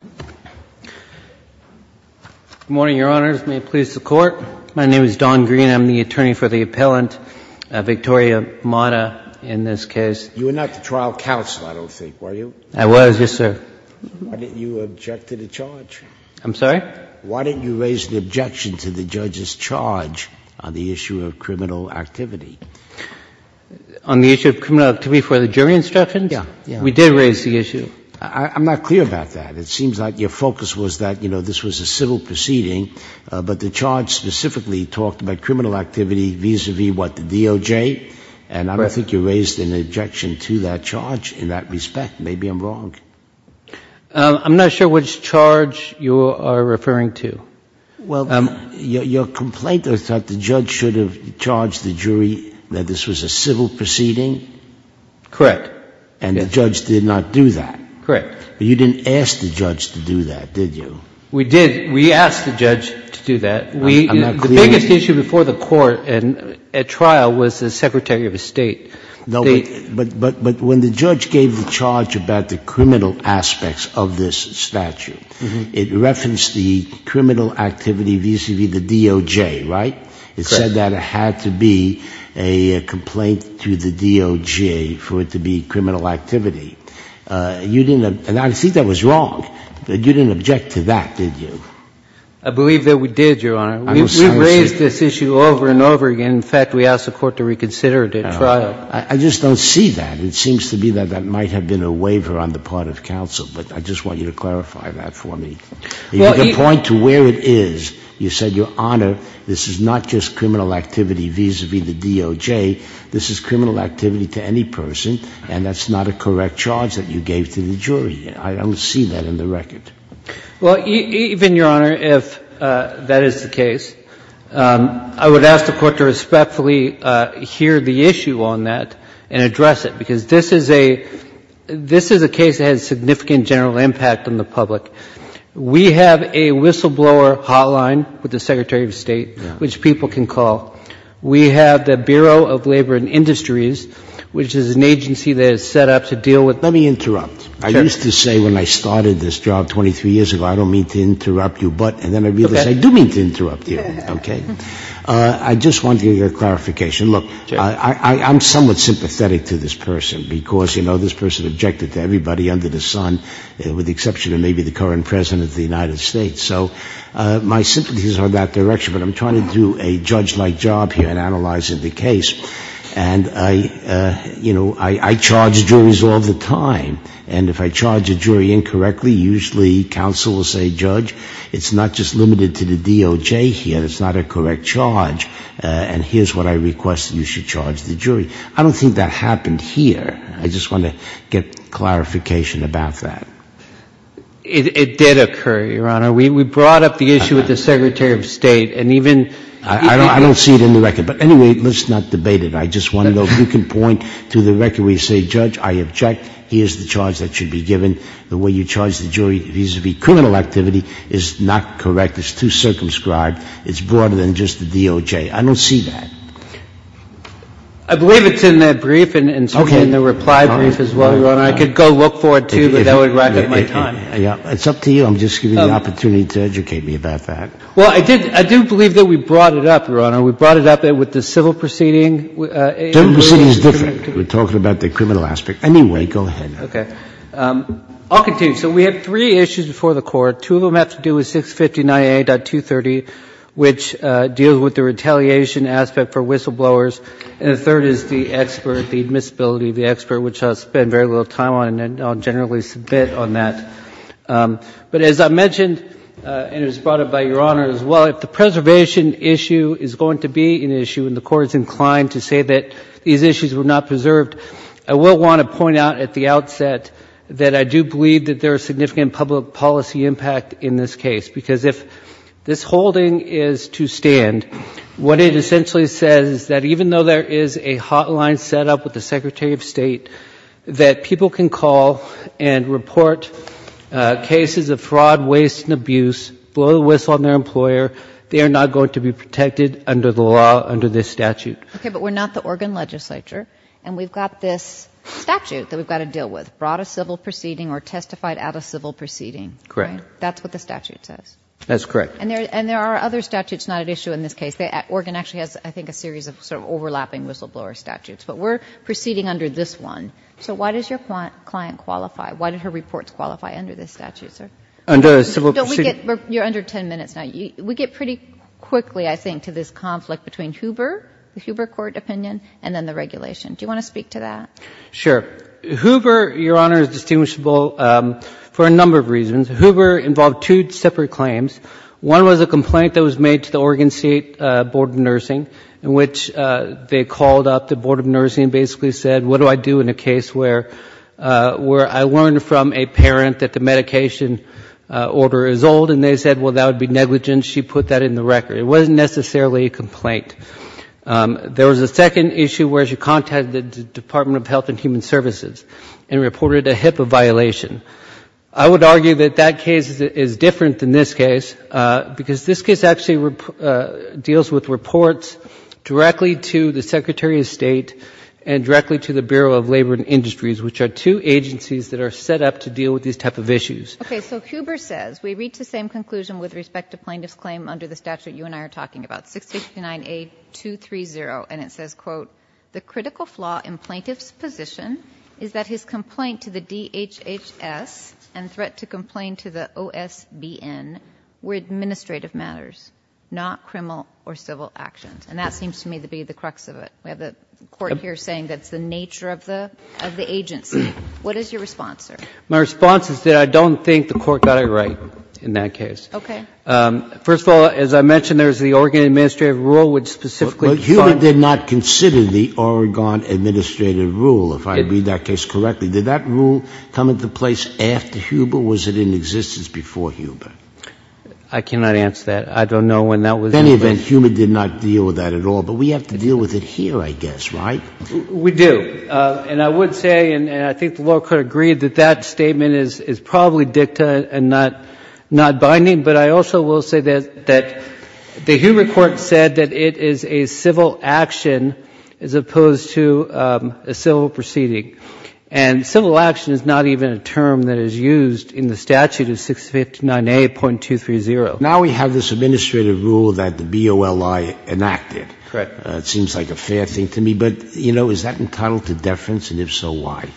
Good morning, Your Honors. May it please the Court? My name is Don Green. I'm the attorney for the appellant, Victoria Mata, in this case. You were not the trial counsel, I don't think, were you? I was, yes, sir. Why didn't you object to the charge? I'm sorry? Why didn't you raise an objection to the judge's charge on the issue of criminal activity? On the issue of criminal activity for the jury instructions? Yeah. We did raise the issue. I'm not clear about that. It seems like your focus was that, you know, this was a civil proceeding, but the charge specifically talked about criminal activity vis-à-vis what, the DOJ? Correct. And I don't think you raised an objection to that charge in that respect. Maybe I'm wrong. I'm not sure which charge you are referring to. Well, your complaint was that the judge should have charged the jury that this was a civil proceeding? Correct. And the judge did not do that? Correct. But you didn't ask the judge to do that, did you? We did. We asked the judge to do that. I'm not clear. The biggest issue before the court at trial was the Secretary of State. But when the judge gave the charge about the criminal aspects of this statute, it referenced the criminal activity vis-à-vis the DOJ, right? Correct. And you said that it had to be a complaint to the DOJ for it to be criminal activity. You didn't — and I think that was wrong. You didn't object to that, did you? I believe that we did, Your Honor. I'm not saying — We raised this issue over and over again. In fact, we asked the court to reconsider it at trial. I just don't see that. It seems to me that that might have been a waiver on the part of counsel. But I just want you to clarify that for me. You make a point to where it is. You said, Your Honor, this is not just criminal activity vis-à-vis the DOJ. This is criminal activity to any person, and that's not a correct charge that you gave to the jury. I don't see that in the record. Well, even, Your Honor, if that is the case, I would ask the court to respectfully hear the issue on that and address it, This is a case that has significant general impact on the public. We have a whistleblower hotline with the Secretary of State, which people can call. We have the Bureau of Labor and Industries, which is an agency that is set up to deal with — Let me interrupt. I used to say when I started this job 23 years ago, I don't mean to interrupt you, but — Okay. And then I realized I do mean to interrupt you. Okay. I just wanted your clarification. Look, I'm somewhat sympathetic to this person, because, you know, this person objected to everybody under the sun, with the exception of maybe the current President of the United States. So my sympathies are in that direction. But I'm trying to do a judge-like job here in analyzing the case. And, you know, I charge juries all the time. And if I charge a jury incorrectly, usually counsel will say, Judge, it's not just limited to the DOJ here. It's not a correct charge. And here's what I request that you should charge the jury. I don't think that happened here. I just want to get clarification about that. It did occur, Your Honor. We brought up the issue with the Secretary of State. And even — I don't see it in the record. But anyway, let's not debate it. I just want to know if you can point to the record where you say, Judge, I object. Here's the charge that should be given. The way you charge the jury vis-à-vis criminal activity is not correct. It's too circumscribed. It's broader than just the DOJ. I don't see that. I believe it's in that brief and certainly in the reply brief as well, Your Honor. I could go look for it, too, but that would rack up my time. It's up to you. I'm just giving you the opportunity to educate me about that. Well, I do believe that we brought it up, Your Honor. We brought it up with the civil proceeding. Civil proceeding is different. We're talking about the criminal aspect. Anyway, go ahead. Okay. I'll continue. So we have three issues before the Court. Two of them have to do with 659A.230, which deals with the retaliation aspect for whistleblowers. And the third is the expert, the admissibility of the expert, which I'll spend very little time on, and I'll generally submit on that. But as I mentioned, and it was brought up by Your Honor as well, if the preservation issue is going to be an issue and the Court is inclined to say that these issues were not preserved, I will want to point out at the outset that I do believe that there is significant public policy impact in this case, because if this holding is to stand, what it essentially says is that even though there is a hotline set up with the Secretary of State that people can call and report cases of fraud, waste, and abuse, blow the whistle on their employer, they are not going to be protected under the law, under this statute. Okay. But we're not the Oregon legislature, and we've got this statute that we've testified at a civil proceeding. Correct. Right? That's what the statute says. That's correct. And there are other statutes not at issue in this case. Oregon actually has, I think, a series of sort of overlapping whistleblower statutes. But we're proceeding under this one. So why does your client qualify? Why did her reports qualify under this statute, sir? Under a civil proceeding? You're under 10 minutes now. We get pretty quickly, I think, to this conflict between Hoover, the Hoover Court opinion, and then the regulation. Do you want to speak to that? Sure. Hoover, Your Honor, is distinguishable for a number of reasons. Hoover involved two separate claims. One was a complaint that was made to the Oregon State Board of Nursing, in which they called up the Board of Nursing and basically said, what do I do in a case where I learned from a parent that the medication order is old? And they said, well, that would be negligent. She put that in the record. It wasn't necessarily a complaint. There was a second issue where she contacted the Department of Health and Human Services and reported a HIPAA violation. I would argue that that case is different than this case because this case actually deals with reports directly to the Secretary of State and directly to the Bureau of Labor and Industries, which are two agencies that are set up to deal with these type of issues. Okay. So Hoover says, we reach the same conclusion with respect to plaintiff's claim under the statute you and I are talking about, 669A230. And it says, quote, the critical flaw in plaintiff's position is that his complaint to the DHHS and threat to complain to the OSBN were administrative matters, not criminal or civil actions. And that seems to me to be the crux of it. We have the Court here saying that's the nature of the agency. What is your response, sir? My response is that I don't think the Court got it right in that case. Okay. First of all, as I mentioned, there's the Oregon administrative rule which specifically defines the statute. But Hoover did not consider the Oregon administrative rule, if I read that case correctly. Did that rule come into place after Hoover or was it in existence before Hoover? I cannot answer that. I don't know when that was in place. In any event, Hoover did not deal with that at all. But we have to deal with it here, I guess, right? We do. And I would say, and I think the lower court agreed, that that statement is probably dicta and not binding. But I also will say that the Hoover court said that it is a civil action as opposed to a civil proceeding. And civil action is not even a term that is used in the statute of 659A.230. Now we have this administrative rule that the BOLI enacted. Correct. It seems like a fair thing to me. But, you know, is that entitled to deference? And if so, why?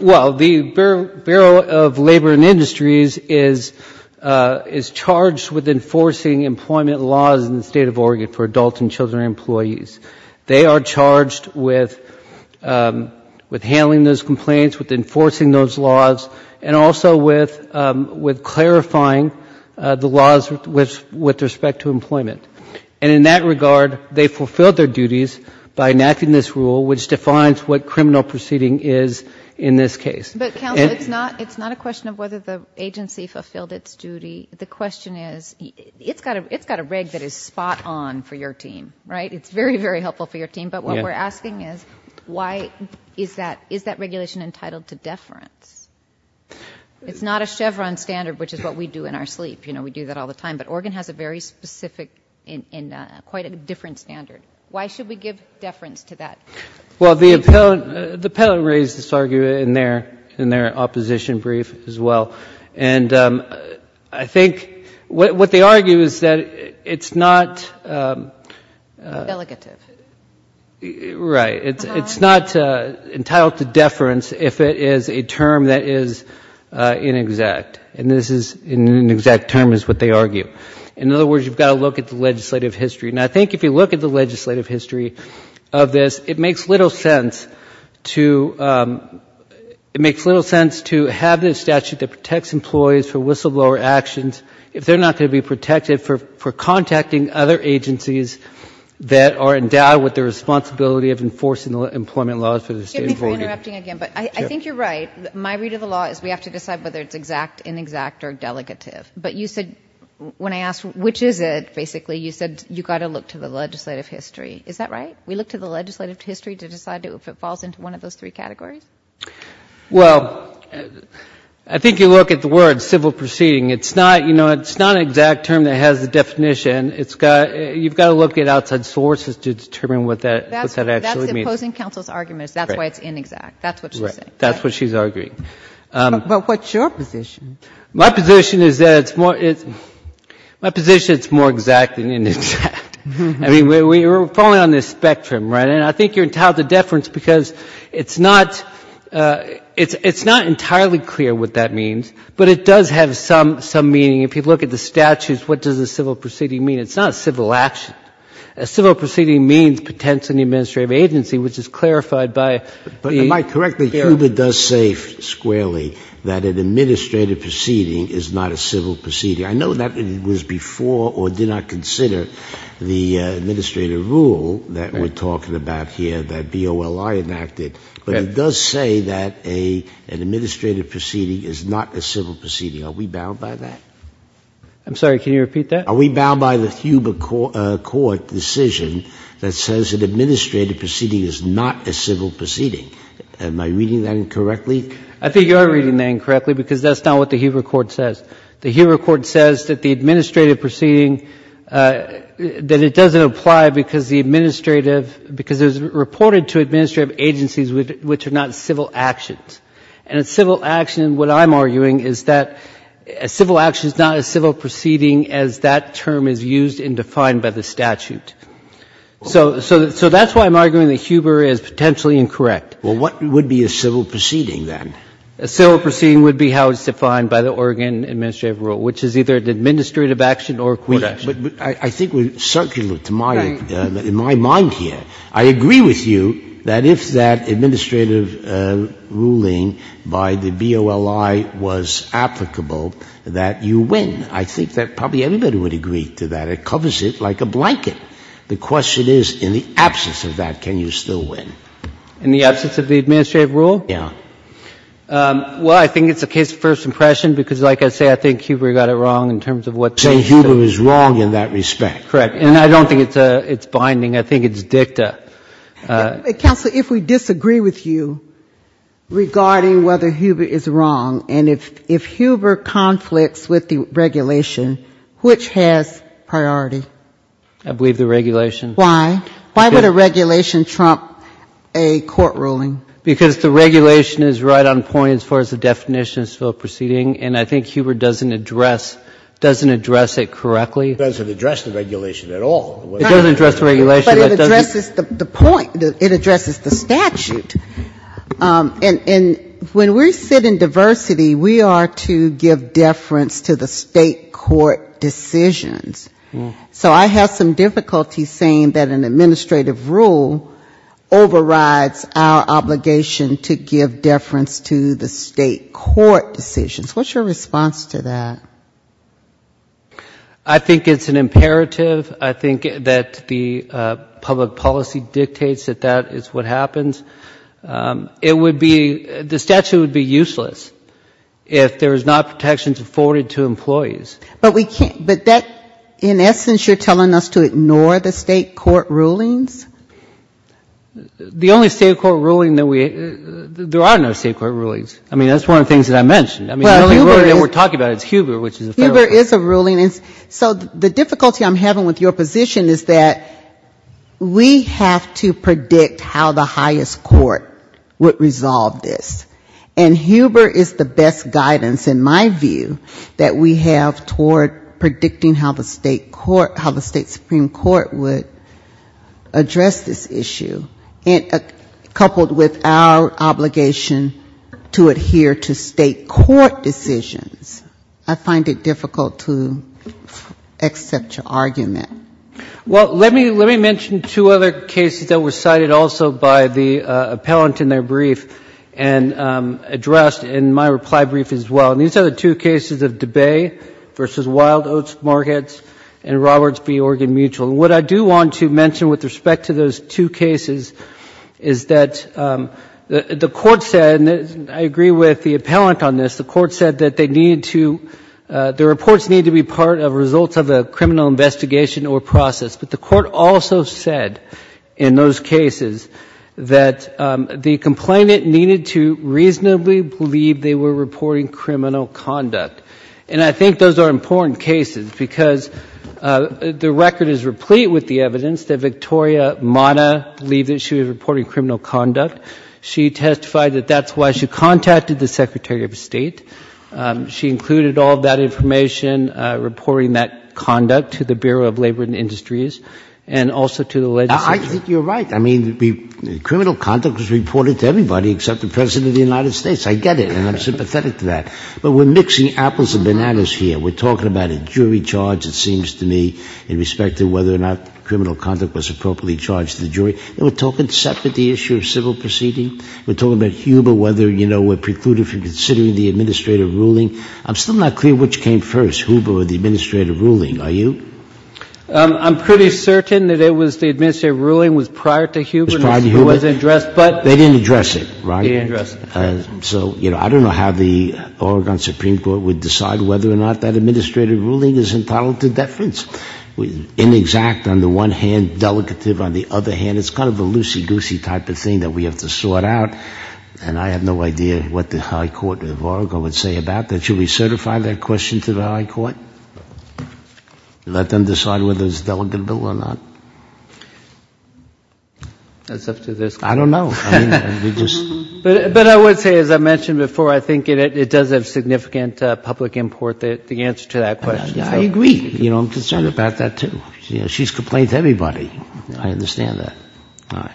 Well, the Bureau of Labor and Industries is charged with enforcing employment laws in the State of Oregon for adults and children and employees. They are charged with handling those complaints, with enforcing those laws, and also with clarifying the laws with respect to employment. And in that regard, they fulfilled their duties by enacting this rule, which defines what a criminal proceeding is in this case. But, counsel, it's not a question of whether the agency fulfilled its duty. The question is, it's got a reg that is spot on for your team, right? It's very, very helpful for your team. But what we're asking is, why is that regulation entitled to deference? It's not a Chevron standard, which is what we do in our sleep. You know, we do that all the time. But Oregon has a very specific and quite a different standard. Why should we give deference to that? Well, the appellant raised this argument in their opposition brief as well. And I think what they argue is that it's not... Delegative. Right. It's not entitled to deference if it is a term that is inexact. And inexact term is what they argue. In other words, you've got to look at the legislative history. And I think if you look at the legislative history of this, it makes little sense to have this statute that protects employees for whistleblower actions if they're not going to be protected for contacting other agencies that are endowed with the responsibility of enforcing employment laws for the state of Oregon. Excuse me for interrupting again, but I think you're right. My read of the law is we have to decide whether it's exact, inexact, or delegative. But you said when I asked which is it, basically, you said you've got to look to the legislative history. Is that right? We look to the legislative history to decide if it falls into one of those three categories? Well, I think you look at the word civil proceeding. It's not an exact term that has a definition. You've got to look at outside sources to determine what that actually means. That's imposing counsel's arguments. That's why it's inexact. That's what she's saying. Right. That's what she's arguing. But what's your position? My position is that it's more exact than inexact. I mean, we're falling on this spectrum, right? And I think you're entitled to deference because it's not entirely clear what that means. But it does have some meaning. If you look at the statutes, what does a civil proceeding mean? It's not a civil action. A civil proceeding means potentially an administrative agency, which is clarified by the ---- is not a civil proceeding. I know that was before or did not consider the administrative rule that we're talking about here that BOLI enacted. But it does say that an administrative proceeding is not a civil proceeding. Are we bound by that? I'm sorry. Can you repeat that? Are we bound by the Huber court decision that says an administrative proceeding is not a civil proceeding? Am I reading that incorrectly? I think you are reading that incorrectly because that's not what the Huber court says. The Huber court says that the administrative proceeding, that it doesn't apply because the administrative because it was reported to administrative agencies which are not civil actions. And a civil action, what I'm arguing, is that a civil action is not a civil proceeding as that term is used and defined by the statute. So that's why I'm arguing that Huber is potentially incorrect. Well, what would be a civil proceeding then? A civil proceeding would be how it's defined by the Oregon administrative rule, which is either an administrative action or a court action. But I think we're circular to my ---- in my mind here. I agree with you that if that administrative ruling by the BOLI was applicable, that you win. I think that probably everybody would agree to that. It covers it like a blanket. The question is, in the absence of that, can you still win? In the absence of the administrative rule? Yeah. Well, I think it's a case of first impression because, like I say, I think Huber got it wrong in terms of what they say. So Huber is wrong in that respect. Correct. And I don't think it's binding. I think it's dicta. Counsel, if we disagree with you regarding whether Huber is wrong, and if Huber conflicts with the regulation, which has priority? I believe the regulation. Why? Why would a regulation trump a court ruling? Because the regulation is right on point as far as the definition is still proceeding, and I think Huber doesn't address it correctly. It doesn't address the regulation at all. It doesn't address the regulation. But it addresses the point. It addresses the statute. And when we sit in diversity, we are to give deference to the State court decisions. So I have some difficulty saying that an administrative rule overrides our obligation to give deference to the State court decisions. What's your response to that? I think it's an imperative. I think that the public policy dictates that that is what happens. It would be, the statute would be useless if there is not protections afforded to employees. But we can't, but that, in essence, you're telling us to ignore the State court rulings? The only State court ruling that we, there are no State court rulings. I mean, that's one of the things that I mentioned. I mean, the only one we're talking about is Huber, which is a federal rule. Huber is a ruling. So the difficulty I'm having with your position is that we have to predict how the highest court would resolve this. And Huber is the best guidance, in my view, that we have toward predicting how the State Supreme Court would address this issue. Coupled with our obligation to adhere to State court decisions, I find it difficult to accept your argument. Well, let me mention two other cases that were cited also by the appellant in their brief and addressed in my reply brief as well. And these are the two cases of DeBay v. Wild Oats Markets and Roberts v. Oregon Mutual. And what I do want to mention with respect to those two cases is that the court said, and I agree with the appellant on this, the court said that they needed to, the reports needed to be part of results of a criminal investigation or process. But the court also said in those cases that the complainant needed to reasonably believe they were reporting criminal conduct. And I think those are important cases because the record is replete with the evidence that Victoria Mata believed that she was reporting criminal conduct. She testified that that's why she contacted the Secretary of State. She included all of that information, reporting that conduct to the Bureau of Labor and Industries and also to the legislature. I think you're right. I mean, criminal conduct was reported to everybody except the President of the United States. I get it, and I'm sympathetic to that. But we're mixing apples and bananas here. We're talking about a jury charge, it seems to me, in respect to whether or not criminal conduct was appropriately charged to the jury. And we're talking separately the issue of civil proceeding. We're talking about Huber, whether, you know, we're precluded from considering the administrative ruling. I'm still not clear which came first, Huber or the administrative ruling. Are you? I'm pretty certain that it was the administrative ruling was prior to Huber. It was prior to Huber? It was addressed, but... They didn't address it, right? They didn't address it. So, you know, I don't know how the Oregon Supreme Court would decide whether or not that administrative ruling is entitled to deference. It's inexact on the one hand, delegative on the other hand. It's kind of a loosey-goosey type of thing that we have to sort out. And I have no idea what the high court of Oregon would say about that. Should we certify that question to the high court? Let them decide whether it's a delegate bill or not? That's up to their... I don't know. But I would say, as I mentioned before, I think it does have significant public import, the answer to that question. I agree. You know, I'm concerned about that, too. She's complained to everybody. I understand that.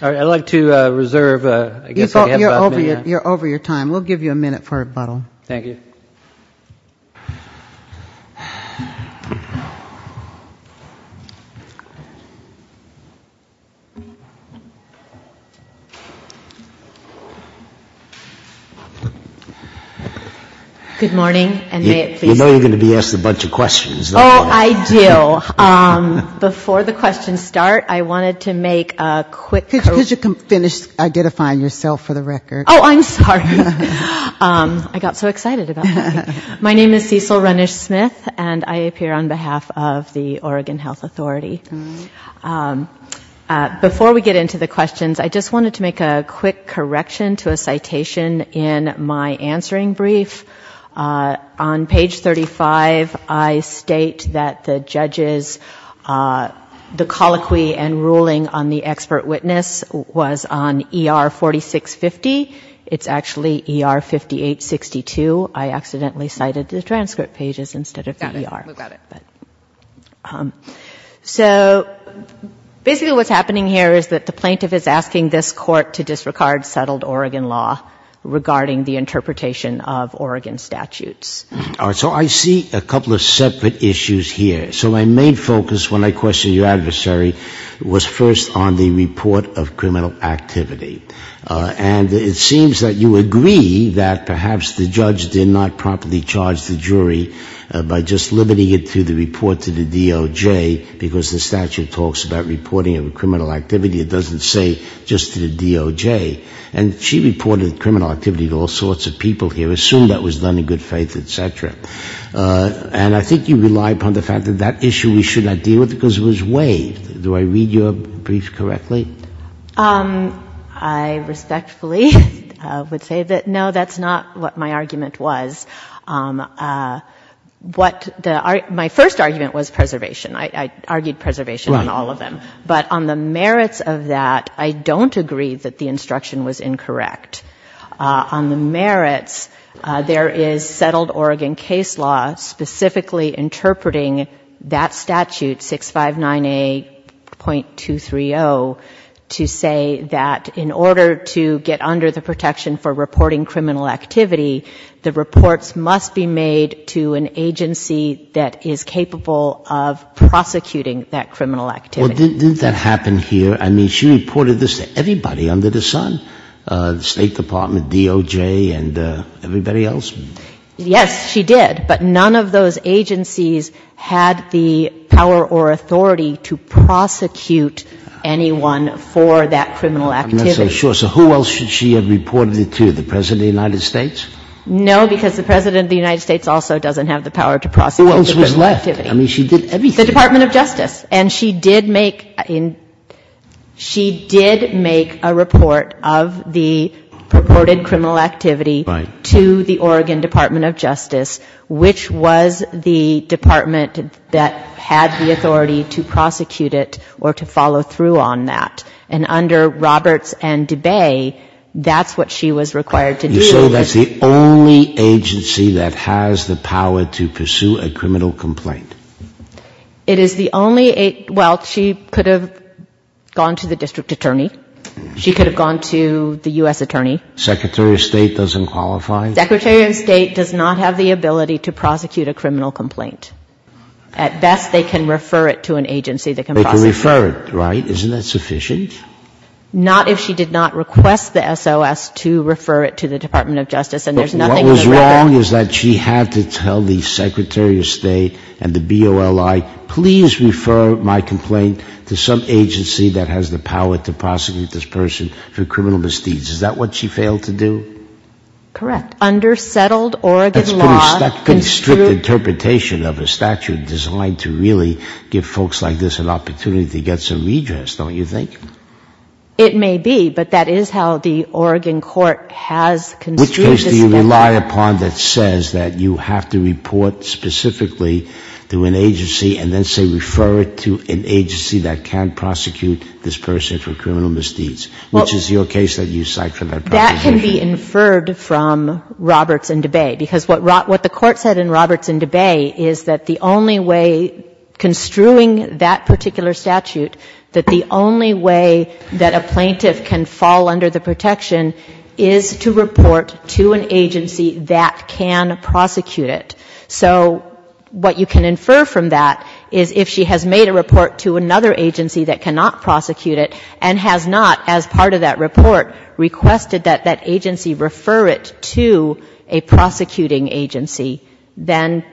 I'd like to reserve... You're over your time. We'll give you a minute for rebuttal. Thank you. Good morning, and may it please the Court. You know you're going to be asked a bunch of questions. Oh, I do. Before the questions start, I wanted to make a quick... Because you can finish identifying yourself for the record. Oh, I'm sorry. I got so excited about that. My name is Cecil Renish-Smith, and I appear on behalf of the Oregon Health Authority. Before we get into the questions, I just wanted to make a quick correction to a citation in my answering brief. On page 35, I state that the judges... The colloquy and ruling on the expert witness was on ER 4650. It's actually ER 5862. I accidentally cited the transcript pages instead of the ER. Got it. We got it. So basically what's happening here is that the plaintiff is asking this court to disregard settled Oregon law regarding the interpretation of Oregon statutes. All right. So I see a couple of separate issues here. So my main focus when I questioned your adversary was first on the report of criminal activity. And it seems that you agree that perhaps the judge did not properly charge the jury by just limiting it to the report to the DOJ, because the statute talks about reporting of a criminal activity. It doesn't say just to the DOJ. And she reported criminal activity to all sorts of people here, assumed that was done in good faith, et cetera. And I think you rely upon the fact that that issue we should not deal with because it was waived. Do I read your brief correctly? I respectfully would say that no, that's not what my argument was. What my first argument was preservation. I argued preservation on all of them. But on the merits of that, I don't agree that the instruction was incorrect. On the merits, there is settled Oregon case law specifically interpreting that statute, 659A.230, to say that in order to get under the protection for reporting criminal activity, the reports must be made to an agency that is capable of prosecuting that criminal activity. Didn't that happen here? I mean, she reported this to everybody under the sun, the State Department, DOJ, and everybody else? Yes, she did. But none of those agencies had the power or authority to prosecute anyone for that criminal activity. I'm not so sure. So who else should she have reported it to, the President of the United States? No, because the President of the United States also doesn't have the power to prosecute criminal activity. Who else was left? I mean, she did everything. The Department of Justice. And she did make a report of the purported criminal activity to the Oregon Department of Justice, which was the department that had the authority to prosecute it or to follow through on that. And under Roberts and DeBay, that's what she was required to do. So that's the only agency that has the power to pursue a criminal complaint? It is the only — well, she could have gone to the district attorney. She could have gone to the U.S. attorney. Secretary of State doesn't qualify? Secretary of State does not have the ability to prosecute a criminal complaint. At best, they can refer it to an agency that can prosecute it. They can refer it, right? Isn't that sufficient? Not if she did not request the SOS to refer it to the Department of Justice, and there's nothing in the record. But what was wrong is that she had to tell the Secretary of State and the BOLI, please refer my complaint to some agency that has the power to prosecute this person for criminal misdeeds. Is that what she failed to do? Correct. Under settled Oregon law — That's pretty strict interpretation of a statute designed to really give folks like this an opportunity to get some redress, don't you think? It may be, but that is how the Oregon court has construed this — Which case do you rely upon that says that you have to report specifically to an agency and then, say, refer it to an agency that can prosecute this person for criminal misdeeds? Which is your case that you cite for that proposition? That can be inferred from Roberts and DeBay. Because what the court said in Roberts and DeBay is that the only way construing that particular statute, that the only way that a plaintiff can fall under the protection is to report to an agency that can prosecute it. So what you can infer from that is if she has made a report to another agency that cannot prosecute it and has not, as part of that report, requested that that agency refer it to a prosecuting agency, then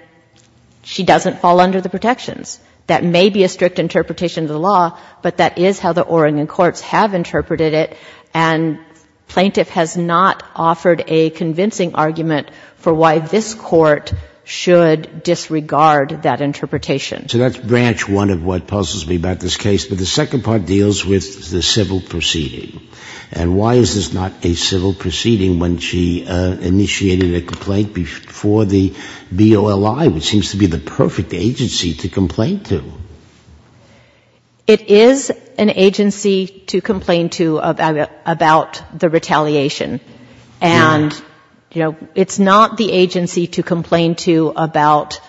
she doesn't fall under the protections. That may be a strict interpretation of the law, but that is how the Oregon courts have interpreted it, and plaintiff has not offered a convincing argument for why this court should disregard that interpretation. So that's branch one of what puzzles me about this case, but the second part deals with the civil proceeding. And why is this not a civil proceeding when she initiated a complaint before the BOLI, which seems to be the perfect agency to complain to? It is an agency to complain to about the retaliation. And, you know, it's not the agency to complain to about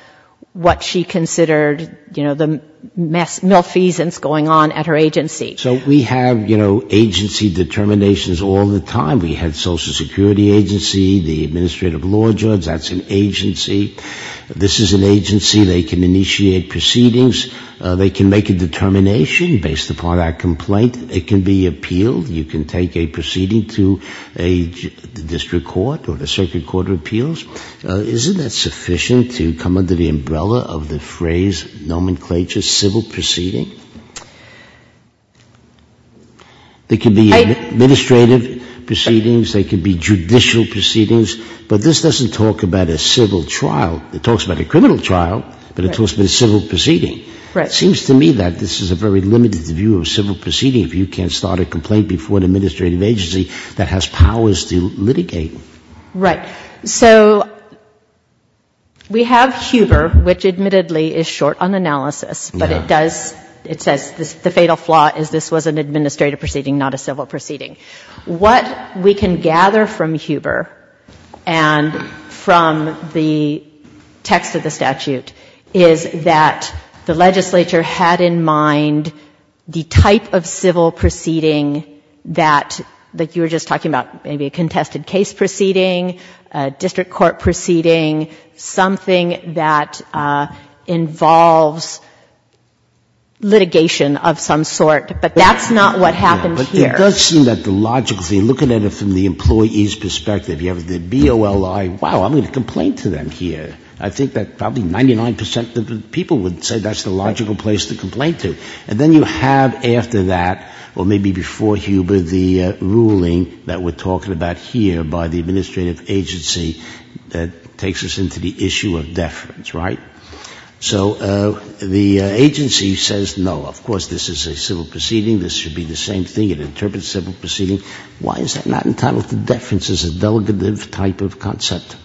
what she considered, you know, the malfeasance going on at her agency. So we have, you know, agency determinations all the time. We had social security agency, the administrative law judge, that's an agency. This is an agency, they can initiate proceedings, they can make a determination based upon that complaint. It can be appealed. You can take a proceeding to a district court or the circuit court of appeals. Isn't that sufficient to come under the umbrella of the phrase nomenclature civil proceeding? There can be administrative proceedings, there can be judicial proceedings, but this doesn't talk about a civil trial. It talks about a criminal trial, but it talks about a civil proceeding. It seems to me that this is a very limited view of civil proceeding if you can't start a complaint before an administrative agency that has powers to litigate. Right. So we have Huber, which admittedly is short on analysis, but it does, it says the fatal flaw is this was an administrative proceeding, not a civil proceeding. What we can gather from Huber and from the text of the statute is that the legislature had in mind the type of civil proceeding that, like you were just talking about, maybe a contested case proceeding, a district court proceeding, something that involves litigation of some sort, but that's not what happened here. It does seem that the logical thing, looking at it from the employee's perspective, you have the BOLI, wow, I'm going to complain to them here. I think that probably 99 percent of the people would say that's the logical place to complain to. And then you have after that, or maybe before Huber, the ruling that we're talking about here by the administrative agency that takes us into the issue of deference, right? So the agency says no, of course this is a civil proceeding, this should be the same thing, it interprets civil proceeding. Why is that not entitled to deference as a delegative type of concept?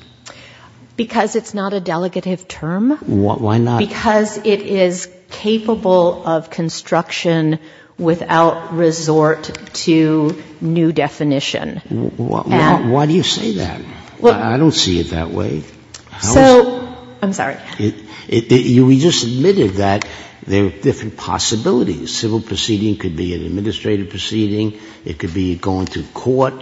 Because it's not a delegative term. Why not? Because it is capable of construction without resort to new definition. Why do you say that? I don't see it that way. So, I'm sorry. You just admitted that there are different possibilities. Civil proceeding could be an administrative proceeding. It could be going to court.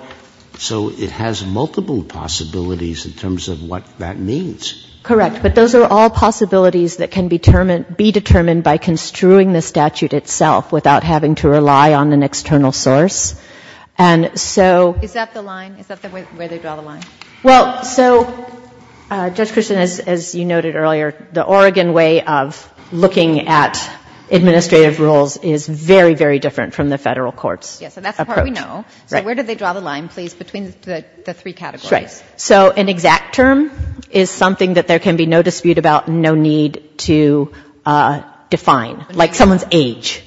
So it has multiple possibilities in terms of what that means. Correct. But those are all possibilities that can be determined by construing the statute itself without having to rely on an external source. And so... Is that the line? Is that where they draw the line? Well, so, Judge Christian, as you noted earlier, the Oregon way of looking at administrative rules is very, very different from the Federal court's approach. Yes, and that's the part we know. So where do they draw the line, please, between the three categories? So an exact term is something that there can be no dispute about, no need to define. Like someone's age.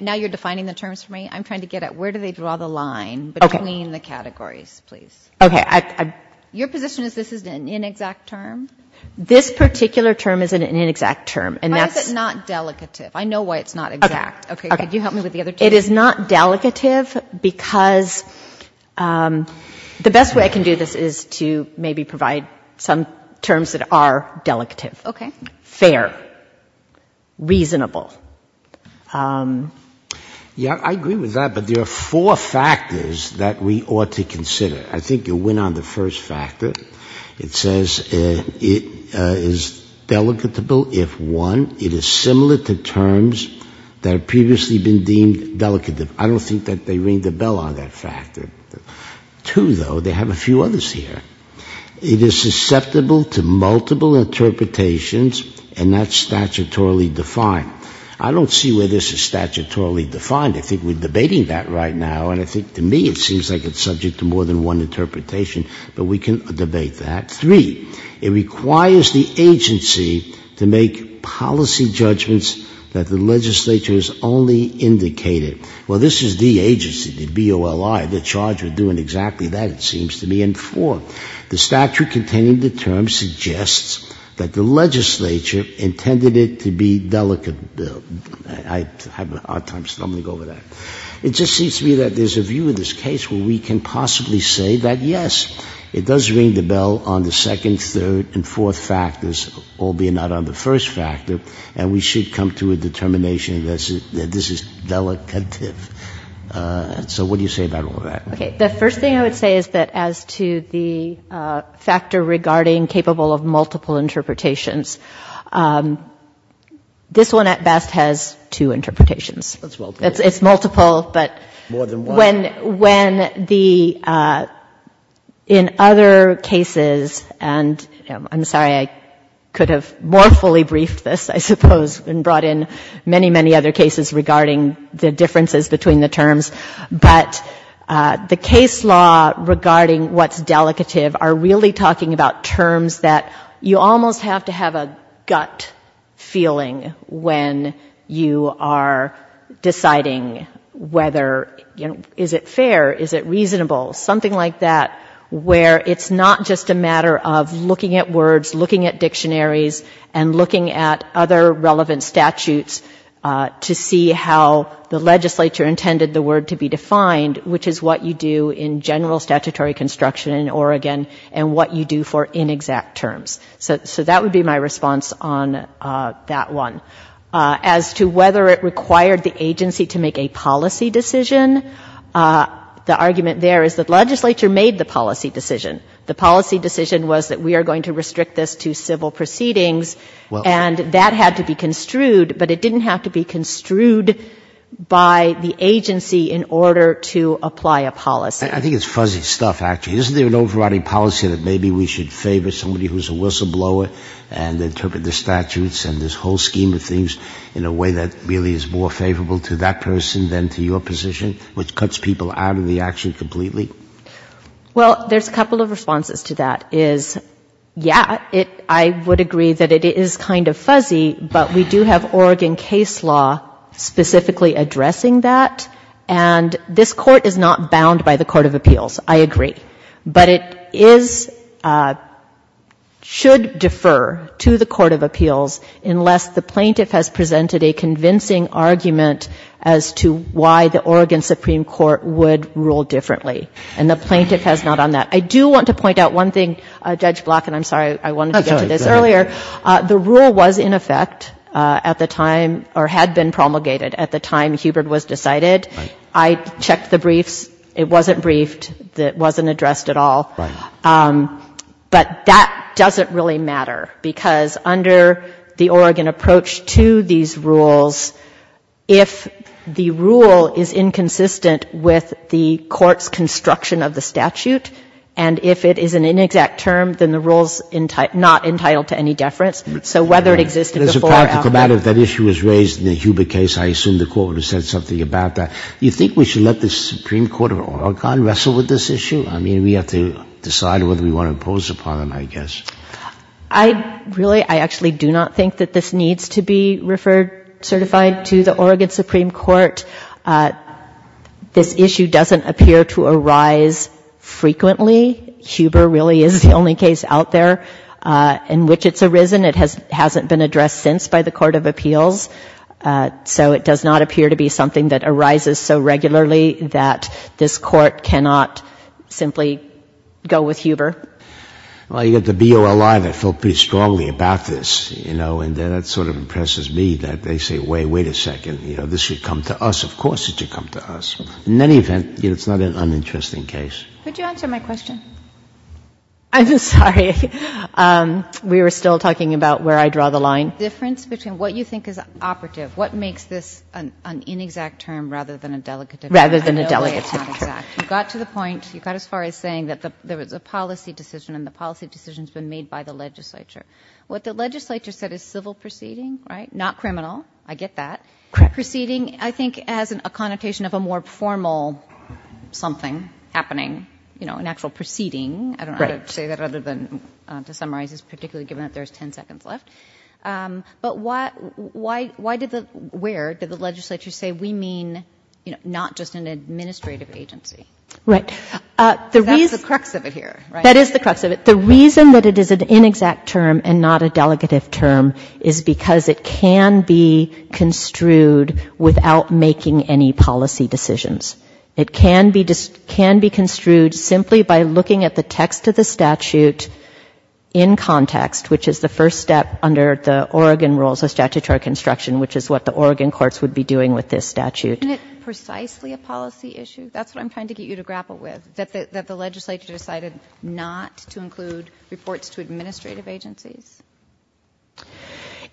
Now you're defining the terms for me? I'm trying to get at where do they draw the line between the categories, please? Okay. Your position is this is an inexact term? This particular term is an inexact term. Why is it not delicative? I know why it's not exact. Okay. Okay. Could you help me with the other two? It is not delicative because the best way I can do this is to maybe provide some terms that are delicative. Okay. Fair. Reasonable. Yeah, I agree with that, but there are four factors that we ought to consider. I think you went on the first factor. It says it is delicatable if, one, it is similar to terms that have previously been deemed delicative. I don't think that they ring the bell on that factor. Two, though, they have a few others here. It is susceptible to multiple interpretations and that's statutorily defined. I don't see where this is statutorily defined. I think we're debating that right now, and I think to me it seems like it's subject to more than one interpretation, but we can debate that. Three, it requires the agency to make policy judgments that the legislature has only indicated. Well, this is the agency, the BOLI, the charge of doing exactly that, it seems to me. The statute containing the terms suggests that the legislature intended it to be delicate. I have a hard time stumbling over that. It just seems to me that there's a view in this case where we can possibly say that, yes, it does ring the bell on the second, third, and fourth factors, albeit not on the first factor, and we should come to a determination that this is delicative. So what do you say about all that? Okay, the first thing I would say is that as to the factor regarding capable of multiple interpretations, this one at best has two interpretations. It's multiple, but when the, in other cases, and I'm sorry, I could have more fully briefed this, I suppose, and brought in many, many other cases regarding the differences between the terms, but the case law regarding what's delicative are really talking about terms that you almost have to have a gut feeling when you are deciding whether, you know, is it fair, is it reasonable, something like that, where it's not just a matter of looking at words, looking at dictionaries, and looking at other relevant statutes to see how the legislature intended the word to be defined, which is what you do in general statutory construction in Oregon and what you do for inexact terms. So that would be my response on that one. As to whether it required the agency to make a policy decision, the argument there is that legislature made the policy decision. The policy decision was that we are going to restrict this to civil proceedings. And that had to be construed, but it didn't have to be construed by the agency in order to apply a policy. I think it's fuzzy stuff, actually. Isn't there an overriding policy that maybe we should favor somebody who's a whistleblower and interpret the statutes and this whole scheme of things in a way that really is more favorable to that person than to your position, which cuts people out of the action completely? Well, there's a couple of responses to that, is, yeah, I would agree that it is kind of fuzzy, but we do have Oregon case law specifically addressing that. And this Court is not bound by the Court of Appeals, I agree. But it is, should defer to the Court of Appeals unless the plaintiff has presented a convincing argument as to why the Oregon Supreme Court would rule differently. And the plaintiff has not on that. I do want to point out one thing, Judge Block, and I'm sorry, I wanted to get to this earlier. The rule was in effect at the time, or had been promulgated at the time Hubert was decided. I checked the briefs. It wasn't briefed. It wasn't addressed at all. Right. But that doesn't really matter, because under the Oregon approach to these rules, if the rule is inconsistent with the court's construction of the statute, and if it is an inexact term, then the rule is not entitled to any deference. So whether it existed before or after. As a practical matter, if that issue was raised in the Hubert case, I assume the Court would have said something about that. Do you think we should let the Supreme Court of Oregon wrestle with this issue? I mean, we have to decide whether we want to impose upon them, I guess. I really, I actually do not think that this needs to be referred, certified to the Oregon Supreme Court. This issue doesn't appear to arise frequently. Hubert really is the only case out there in which it's arisen. It hasn't been addressed since by the Court of Appeals. So it does not appear to be something that arises so regularly that this Court cannot simply go with Hubert. Well, you've got the BOLI that felt pretty strongly about this, you know, and that sort of impresses me that they say, wait a second, you know, this should come to us. Of course it should come to us. In any event, it's not an uninteresting case. Could you answer my question? I'm sorry. We were still talking about where I draw the line. The difference between what you think is operative, what makes this an inexact term rather than a delicate term? Rather than a delicate term. I know it's not exact. You got to the point, you got as far as saying that there was a policy decision, and the policy decision's been made by the legislature. What the legislature said is civil proceeding, right, not criminal. I get that. Correct. Proceeding, I think, has a connotation of a more formal something happening, you know, an actual proceeding. I don't know how to say that other than to summarize this, particularly given that there's ten seconds left. But why did the, where did the legislature say we mean, you know, not just an administrative agency? Right. Because that's the crux of it here, right? That is the crux of it. The reason that it is an inexact term and not a delegative term is because it can be construed without making any policy decisions. It can be construed simply by looking at the text of the statute in context, which is the first step under the Oregon rules of statutory construction, which is what the Oregon courts would be doing with this statute. Isn't it precisely a policy issue? That's what I'm trying to get you to grapple with, that the legislature decided not to include reports to administrative agencies.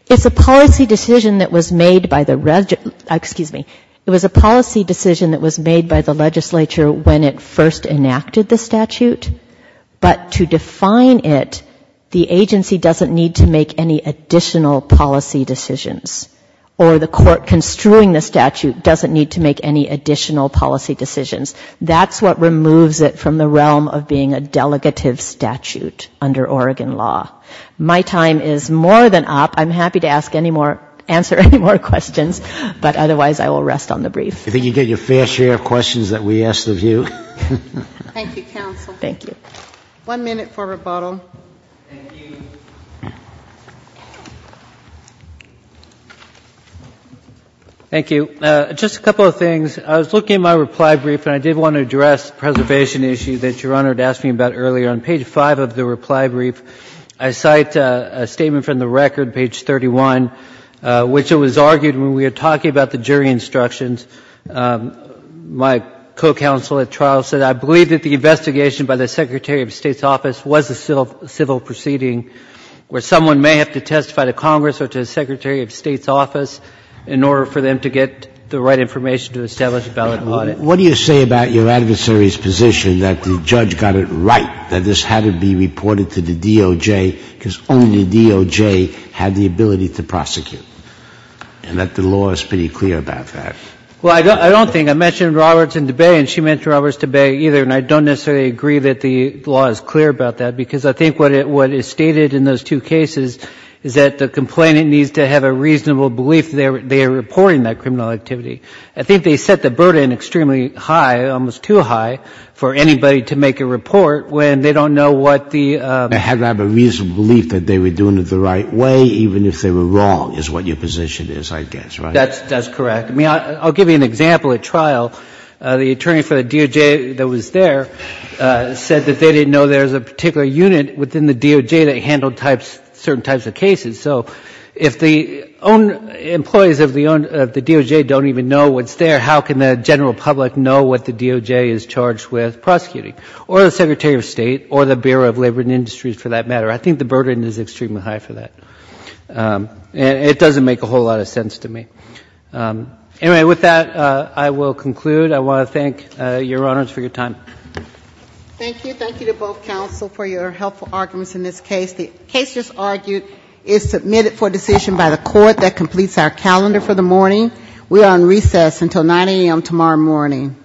It's a policy decision that was made by the, excuse me, it was a policy decision that was made by the legislature when it first enacted the statute. But to define it, the agency doesn't need to make any additional policy decisions. Or the court construing the statute doesn't need to make any additional policy decisions. That's what removes it from the realm of being a delegative statute under Oregon law. My time is more than up. I'm happy to ask any more, answer any more questions, but otherwise I will rest on the brief. I think you get your fair share of questions that we ask of you. Thank you, counsel. Thank you. One minute for rebuttal. Thank you. Thank you. Just a couple of things. I was looking at my reply brief and I did want to address the preservation issue that Your Honor had asked me about earlier. On page 5 of the reply brief, I cite a statement from the record, page 31, which was argued when we were talking about the jury instructions. My co-counsel at trial said, I believe that the investigation by the Secretary of State's office was a civil proceeding where someone may have to testify to Congress or to the Secretary of State's office in order for them to get the right information to establish a valid audit. What do you say about your adversary's position that the judge got it right, that this had to be reported to the DOJ because only the DOJ had the ability to prosecute, and that the law is pretty clear about that? Well, I don't think. I mentioned Roberts and DeBay, and she mentioned Roberts and DeBay either, and I don't necessarily agree that the law is clear about that, because I think what is stated in those two cases is that the complainant needs to have a reasonable belief that they are reporting that criminal activity. I think they set the burden extremely high, almost too high, for anybody to make a report when they don't know what the ‑‑ They had to have a reasonable belief that they were doing it the right way, even if they were wrong, is what your position is, I guess, right? That's correct. I mean, I'll give you an example at trial. The attorney for the DOJ that was there said that they didn't know there was a particular unit within the DOJ that handled certain types of cases. So if the employees of the DOJ don't even know what's there, how can the general public know what the DOJ is charged with prosecuting? Or the Secretary of State, or the Bureau of Labor and Industries, for that matter. I think the burden is extremely high for that. It doesn't make a whole lot of sense to me. Anyway, with that, I will conclude. I want to thank Your Honors for your time. Thank you. Thank you to both counsel for your helpful arguments in this case. The case just argued is submitted for decision by the court that completes our calendar for the morning. We are on recess until 9 a.m. tomorrow morning.